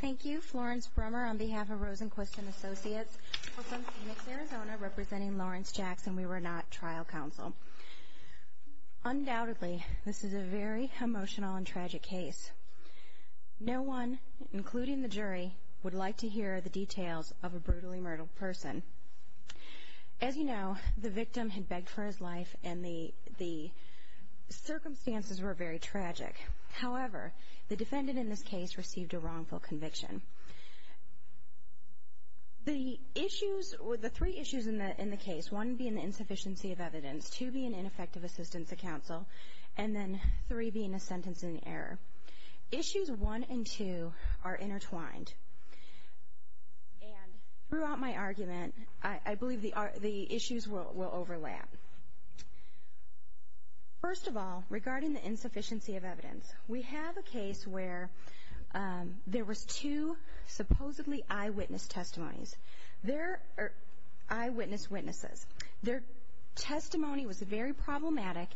Thank you, Florence Brummer on behalf of Rosenquist & Associates, from Phoenix, Arizona, representing Lawrence Jackson. We were not trial counsel. Undoubtedly, this is a very emotional and tragic case. No one, including the jury, would like to hear the details of a brutally murdered person. As you know, the victim had begged for his life and the circumstances were very tragic. However, the defendant in this case received a wrongful conviction. The three issues in the case, one being the insufficiency of evidence, two being ineffective assistance to counsel, and then three being a sentence in error, issues one and two are intertwined. Throughout my argument, I believe the issues will overlap. First of all, regarding the insufficiency of evidence, we have a case where there was two supposedly eyewitness testimonies. They're eyewitness witnesses. Their testimony was very problematic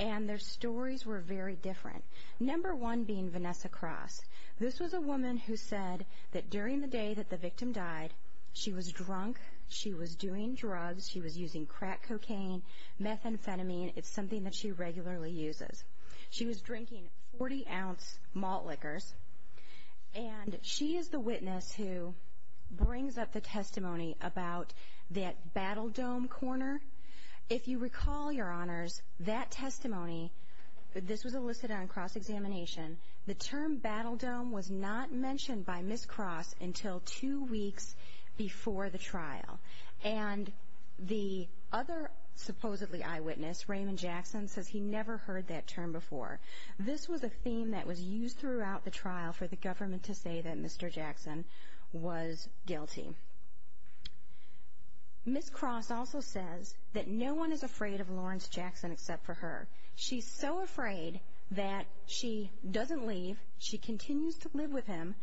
and their stories were very different, number one being Vanessa Cross. This was a woman who said that during the day that the victim died, she was drunk, she was doing drugs, she was using crack cocaine, methamphetamine. It's something that she regularly uses. She was drinking 40-ounce malt liquors, and she is the witness who brings up the testimony about that Battle Dome corner. If you recall, Your Honors, that testimony, this was elicited on cross-examination, the term Battle Dome was not mentioned by Ms. Cross until two weeks before the trial. And the other supposedly eyewitness, Raymond Jackson, says he never heard that term before. This was a theme that was used throughout the trial for the government to say that Mr. Jackson was guilty. Ms. Cross also says that no one is afraid of Lawrence Jackson except for her. She's so afraid that she doesn't leave. She continues to live with him.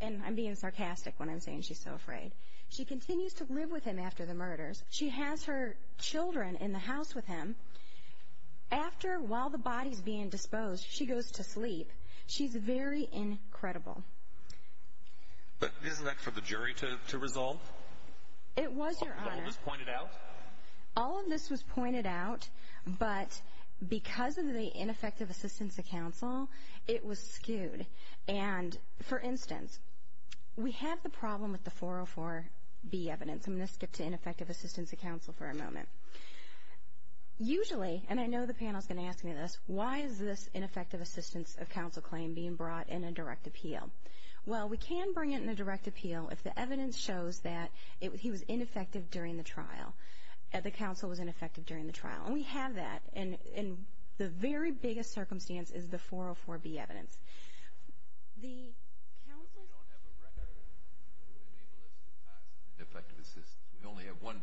And I'm being sarcastic when I'm saying she's so afraid. She continues to live with him after the murders. She has her children in the house with him. After, while the body's being disposed, she goes to sleep. She's very incredible. But isn't that for the jury to resolve? It was, Your Honor. Was all of this pointed out? All of this was pointed out, but because of the ineffective assistance of counsel, it was skewed. And, for instance, we have the problem with the 404B evidence. I'm going to skip to ineffective assistance of counsel for a moment. Usually, and I know the panel is going to ask me this, why is this ineffective assistance of counsel claim being brought in a direct appeal? Well, we can bring it in a direct appeal if the evidence shows that he was ineffective during the trial, that the counsel was ineffective during the trial. And we have that. And the very biggest circumstance is the 404B evidence. The counsel's ---- Because we don't have a record that would enable us to pass an ineffective assistance. We only have one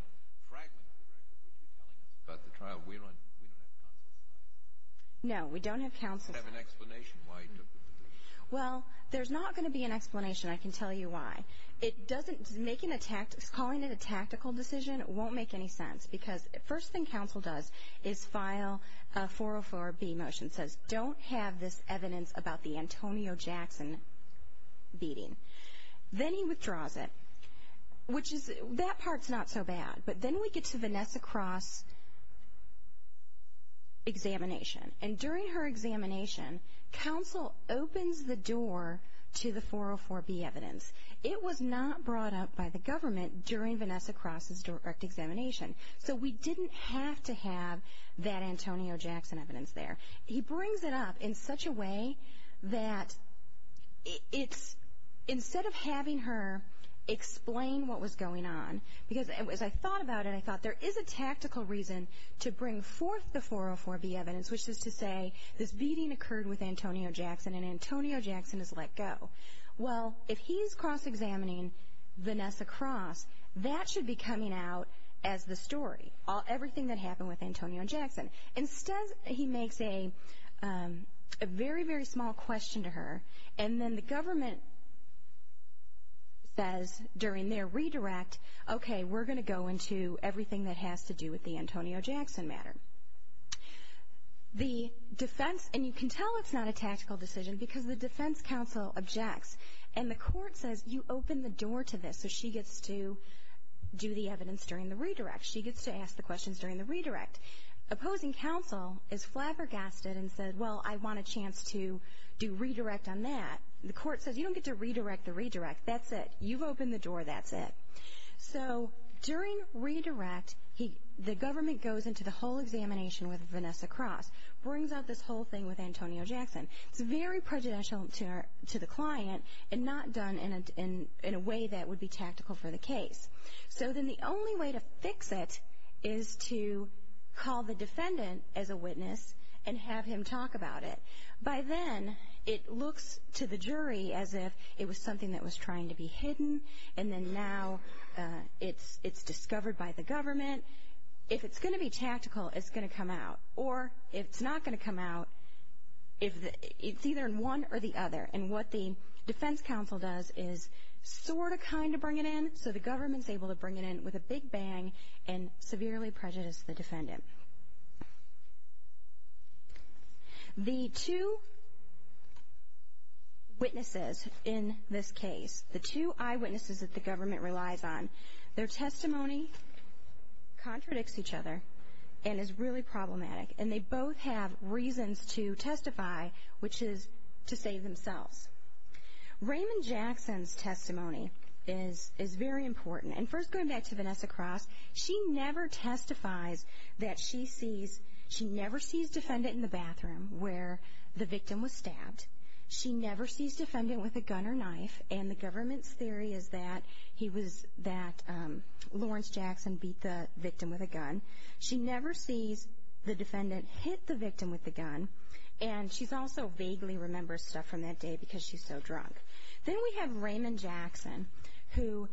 fragment of the record, which you're telling us about the trial. We don't have counsel's side. No, we don't have counsel's side. You don't have an explanation why he took the trial. Well, there's not going to be an explanation. I can tell you why. It doesn't ---- making a ---- calling it a tactical decision won't make any sense because the first thing counsel does is file a 404B motion, says don't have this evidence about the Antonio Jackson beating. Then he withdraws it, which is ---- that part's not so bad. But then we get to Vanessa Cross' examination. And during her examination, counsel opens the door to the 404B evidence. It was not brought up by the government during Vanessa Cross' direct examination. So we didn't have to have that Antonio Jackson evidence there. He brings it up in such a way that it's ---- instead of having her explain what was going on, because as I thought about it, I thought there is a tactical reason to bring forth the 404B evidence, which is to say this beating occurred with Antonio Jackson and Antonio Jackson has let go. Well, if he's cross-examining Vanessa Cross, that should be coming out as the story, everything that happened with Antonio Jackson. Instead, he makes a very, very small question to her, and then the government says during their redirect, okay, we're going to go into everything that has to do with the Antonio Jackson matter. The defense ---- and you can tell it's not a tactical decision because the defense counsel objects. And the court says, you opened the door to this, so she gets to do the evidence during the redirect. She gets to ask the questions during the redirect. Opposing counsel is flabbergasted and said, well, I want a chance to do redirect on that. The court says, you don't get to redirect the redirect. That's it. You've opened the door. That's it. So during redirect, the government goes into the whole examination with Vanessa Cross, brings out this whole thing with Antonio Jackson. It's very prejudicial to the client and not done in a way that would be tactical for the case. So then the only way to fix it is to call the defendant as a witness and have him talk about it. By then, it looks to the jury as if it was something that was trying to be hidden, and then now it's discovered by the government. If it's going to be tactical, it's going to come out. Or if it's not going to come out, it's either in one or the other. And what the defense counsel does is sort of kind of bring it in, so the government's able to bring it in with a big bang and severely prejudice the defendant. The two witnesses in this case, the two eyewitnesses that the government relies on, their testimony contradicts each other and is really problematic, and they both have reasons to testify, which is to save themselves. Raymond Jackson's testimony is very important. And first going back to Vanessa Cross, she never testifies that she sees, she never sees defendant in the bathroom where the victim was stabbed. She never sees defendant with a gun or knife, and the government's theory is that he was, that Lawrence Jackson beat the victim with a gun. She never sees the defendant hit the victim with the gun, and she also vaguely remembers stuff from that day because she's so drunk. Then we have Raymond Jackson, who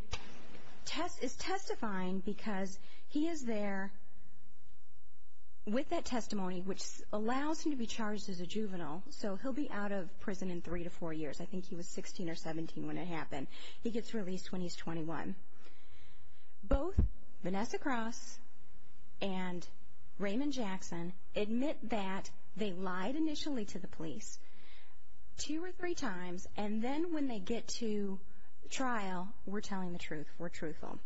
is testifying because he is there with that testimony, which allows him to be charged as a juvenile, so he'll be out of prison in three to four years. I think he was 16 or 17 when it happened. He gets released when he's 21. Both Vanessa Cross and Raymond Jackson admit that they lied initially to the police two or three times, and then when they get to trial, we're telling the truth, we're truthful.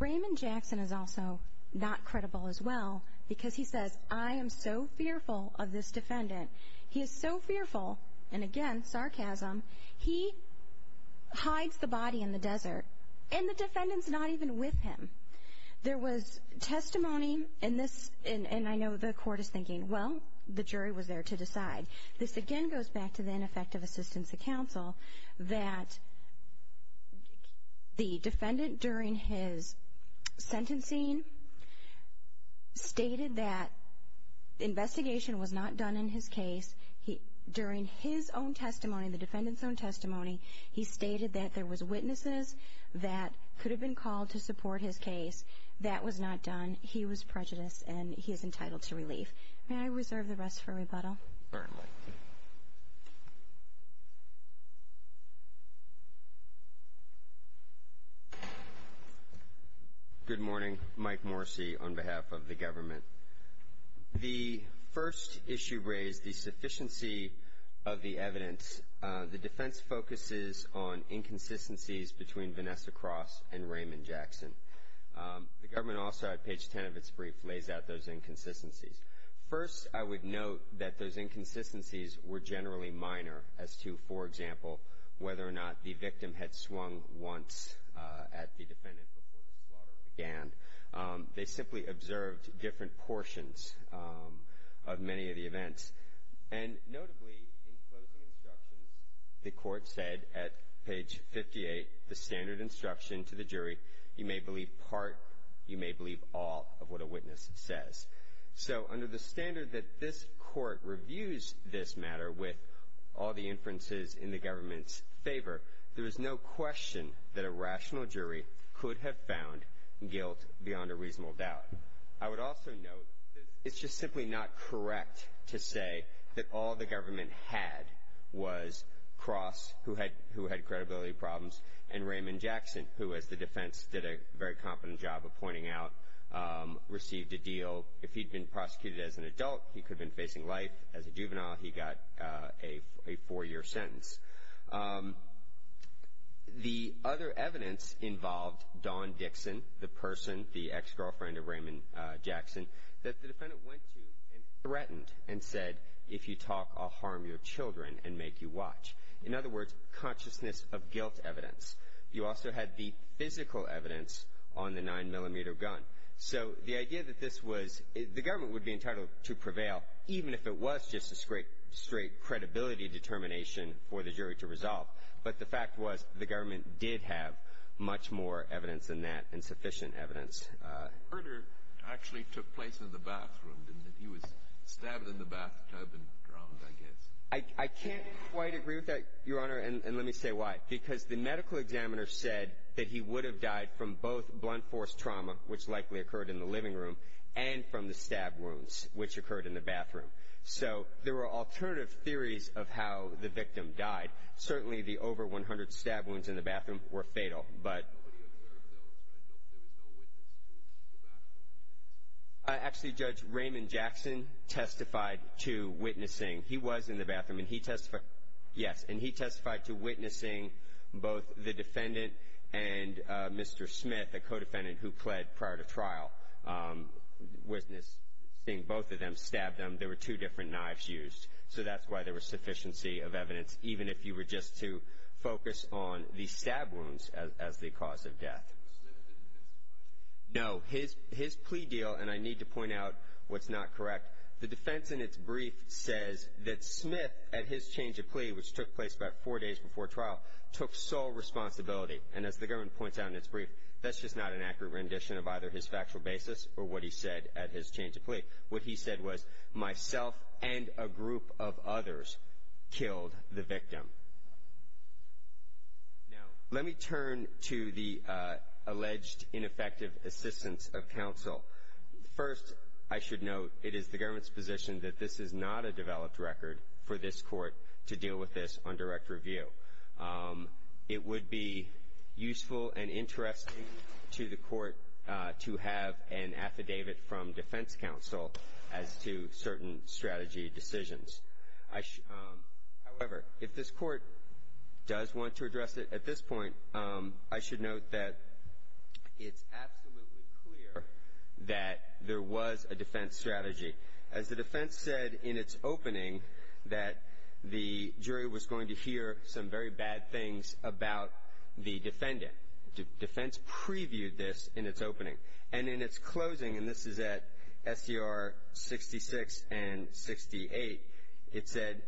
Raymond Jackson is also not credible as well because he says, I am so fearful of this defendant. He is so fearful, and again, sarcasm, he hides the body in the desert, and the defendant's not even with him. There was testimony in this, and I know the court is thinking, well, the jury was there to decide. This again goes back to the ineffective assistance of counsel, that the defendant during his sentencing stated that the investigation was not done in his case. During his own testimony, the defendant's own testimony, he stated that there was witnesses that could have been called to support his case. That was not done. Thank you. May I reserve the rest for rebuttal? Certainly. Good morning. Mike Morrissey on behalf of the government. The first issue raised the sufficiency of the evidence. The defense focuses on inconsistencies between Vanessa Cross and Raymond Jackson. The government also, at page 10 of its brief, lays out those inconsistencies. First, I would note that those inconsistencies were generally minor as to, for example, whether or not the victim had swung once at the defendant before the slaughter began. They simply observed different portions of many of the events. And notably, in closing instructions, the court said at page 58, the standard instruction to the jury, you may believe part, you may believe all of what a witness says. So under the standard that this court reviews this matter with all the inferences in the government's favor, there is no question that a rational jury could have found guilt beyond a reasonable doubt. I would also note that it's just simply not correct to say that all the government had was Cross, who had credibility problems, and Raymond Jackson, who, as the defense did a very competent job of pointing out, received a deal. If he'd been prosecuted as an adult, he could have been facing life. As a juvenile, he got a four-year sentence. The other evidence involved Dawn Dixon, the person, the ex-girlfriend of Raymond Jackson, that the defendant went to and threatened and said, if you talk, I'll harm your children and make you watch. In other words, consciousness of guilt evidence. You also had the physical evidence on the 9-millimeter gun. So the idea that this was the government would be entitled to prevail, even if it was just a straight credibility determination for the jury to resolve. But the fact was the government did have much more evidence than that and sufficient evidence. The murder actually took place in the bathroom, didn't it? He was stabbed in the bathtub and drowned, I guess. I can't quite agree with that, Your Honor, and let me say why. Because the medical examiner said that he would have died from both blunt force trauma, which likely occurred in the living room, and from the stab wounds, which occurred in the bathroom. So there were alternative theories of how the victim died. Certainly, the over 100 stab wounds in the bathroom were fatal. But nobody observed those, right? There was no witness in the bathroom? Actually, Judge Raymond Jackson testified to witnessing. He was in the bathroom, and he testified to witnessing both the defendant and Mr. Smith, the co-defendant who pled prior to trial, witnessing both of them, stabbed them. There were two different knives used. So that's why there was sufficiency of evidence, even if you were just to focus on the stab wounds as the cause of death. No, his plea deal, and I need to point out what's not correct, the defense in its brief says that Smith, at his change of plea, which took place about four days before trial, took sole responsibility. And as the government points out in its brief, that's just not an accurate rendition of either his factual basis or what he said at his change of plea. What he said was, myself and a group of others killed the victim. Now, let me turn to the alleged ineffective assistance of counsel. First, I should note, it is the government's position that this is not a developed record for this court to deal with this on direct review. It would be useful and interesting to the court to have an affidavit from defense counsel as to certain strategy decisions. However, if this court does want to address it at this point, I should note that it's absolutely clear that there was a defense strategy. As the defense said in its opening, that the jury was going to hear some very bad things about the defendant. Defense previewed this in its opening. And in its closing, and this is at SDR 66 and 68, it said,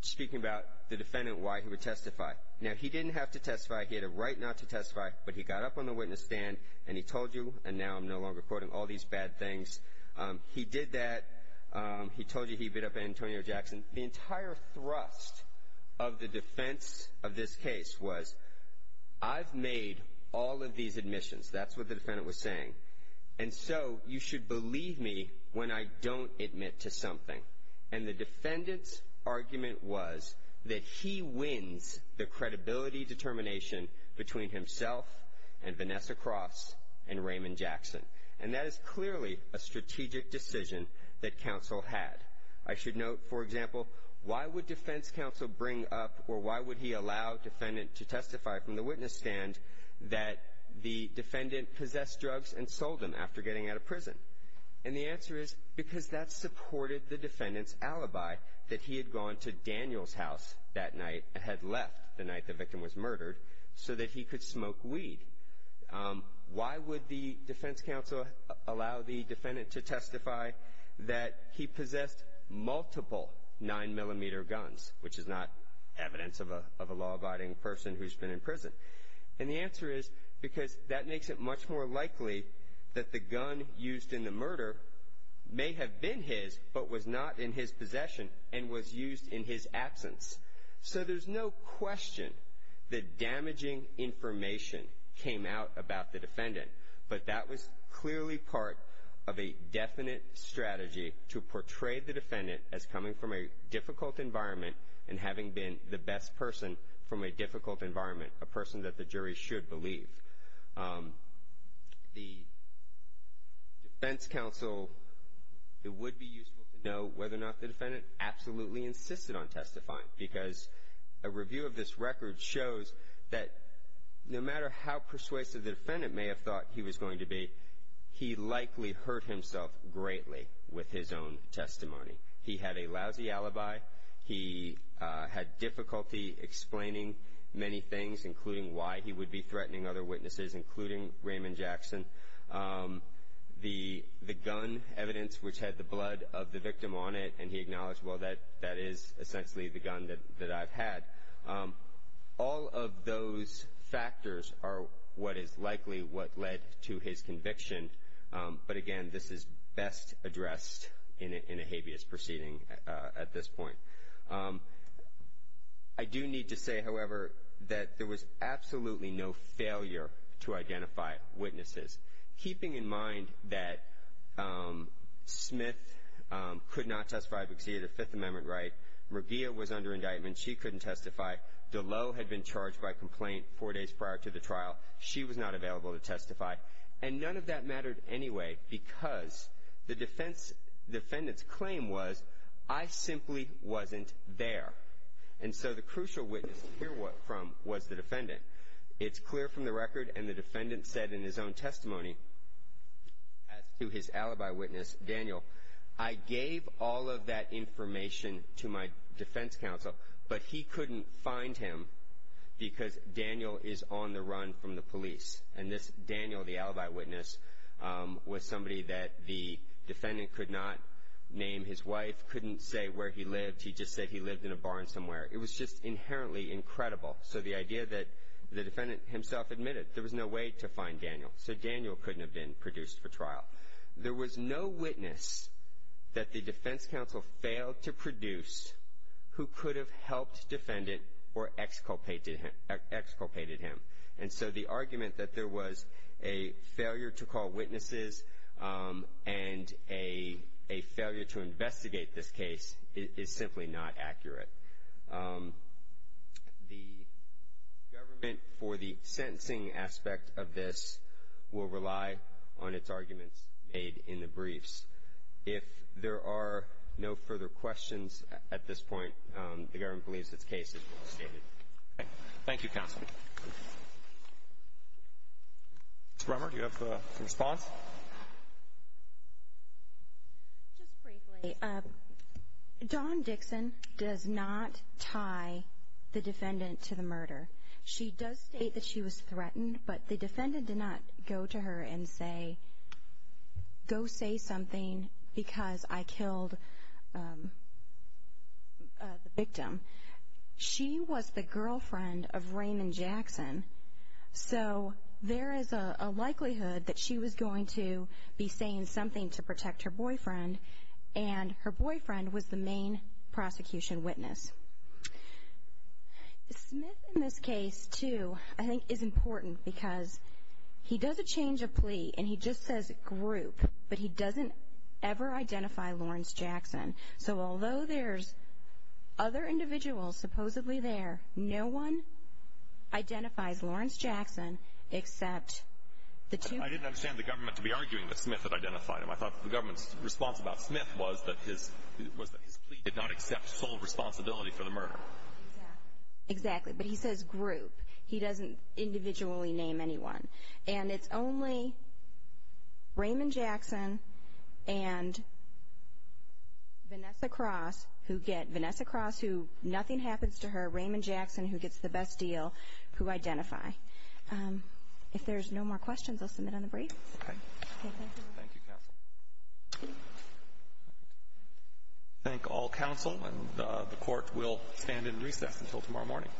speaking about the defendant, why he would testify. Now, he didn't have to testify. He had a right not to testify, but he got up on the witness stand and he told you, and now I'm no longer quoting all these bad things, he did that. He told you he beat up Antonio Jackson. The entire thrust of the defense of this case was, I've made all of these admissions. That's what the defendant was saying. And so you should believe me when I don't admit to something. And the defendant's argument was that he wins the credibility determination between himself and Vanessa Cross and Raymond Jackson. And that is clearly a strategic decision that counsel had. I should note, for example, why would defense counsel bring up or why would he allow a defendant to testify from the witness stand that the defendant possessed drugs and sold them after getting out of prison? And the answer is because that supported the defendant's alibi that he had gone to Daniel's house that night and had left the night the victim was murdered so that he could smoke weed. Why would the defense counsel allow the defendant to testify that he possessed multiple 9mm guns, which is not evidence of a law-abiding person who's been in prison? And the answer is because that makes it much more likely that the gun used in the murder may have been his but was not in his possession and was used in his absence. So there's no question that damaging information came out about the defendant, but that was clearly part of a definite strategy to portray the defendant as coming from a difficult environment and having been the best person from a difficult environment, a person that the jury should believe. The defense counsel, it would be useful to know whether or not the defendant absolutely insisted on testifying because a review of this record shows that no matter how persuasive the defendant may have thought he was going to be, he likely hurt himself greatly with his own testimony. He had a lousy alibi. He had difficulty explaining many things, including why he would be threatening other witnesses, including Raymond Jackson. The gun evidence, which had the blood of the victim on it, and he acknowledged, well, that that is essentially the gun that I've had. All of those factors are what is likely what led to his conviction. But, again, this is best addressed in a habeas proceeding at this point. I do need to say, however, that there was absolutely no failure to identify witnesses, keeping in mind that Smith could not testify because he had a Fifth Amendment right. McGeough was under indictment. She couldn't testify. DeLow had been charged by complaint four days prior to the trial. She was not available to testify. And none of that mattered anyway because the defendant's claim was, I simply wasn't there. And so the crucial witness to hear from was the defendant. It's clear from the record, and the defendant said in his own testimony to his alibi witness, Daniel, I gave all of that information to my defense counsel, but he couldn't find him because Daniel is on the run from the police. And this Daniel, the alibi witness, was somebody that the defendant could not name his wife, couldn't say where he lived, he just said he lived in a barn somewhere. It was just inherently incredible. So the idea that the defendant himself admitted there was no way to find Daniel, so Daniel couldn't have been produced for trial. There was no witness that the defense counsel failed to produce who could have helped defendant or exculpated him. And so the argument that there was a failure to call witnesses and a failure to investigate this case is simply not accurate. The government, for the sentencing aspect of this, will rely on its arguments made in the briefs. If there are no further questions at this point, the government believes its case is well stated. Thank you, counsel. Ms. Brummer, do you have a response? Just briefly, Dawn Dixon does not tie the defendant to the murder. She does state that she was threatened, but the defendant did not go to her and say, go say something because I killed the victim. She was the girlfriend of Raymond Jackson, so there is a likelihood that she was going to be saying something to protect her boyfriend, and her boyfriend was the main prosecution witness. Smith, in this case, too, I think is important because he does a change of plea, and he just says group, but he doesn't ever identify Lawrence Jackson. So although there's other individuals supposedly there, no one identifies Lawrence Jackson except the two men. I didn't understand the government to be arguing that Smith had identified him. I thought the government's response about Smith was that his plea did not accept sole responsibility for the murder. Exactly, but he says group. He doesn't individually name anyone. And it's only Raymond Jackson and Vanessa Cross who get Vanessa Cross who nothing happens to her, Raymond Jackson who gets the best deal, who identify. If there's no more questions, I'll submit on the brief. Okay. Thank you, counsel. I thank all counsel, and the Court will stand in recess until tomorrow morning.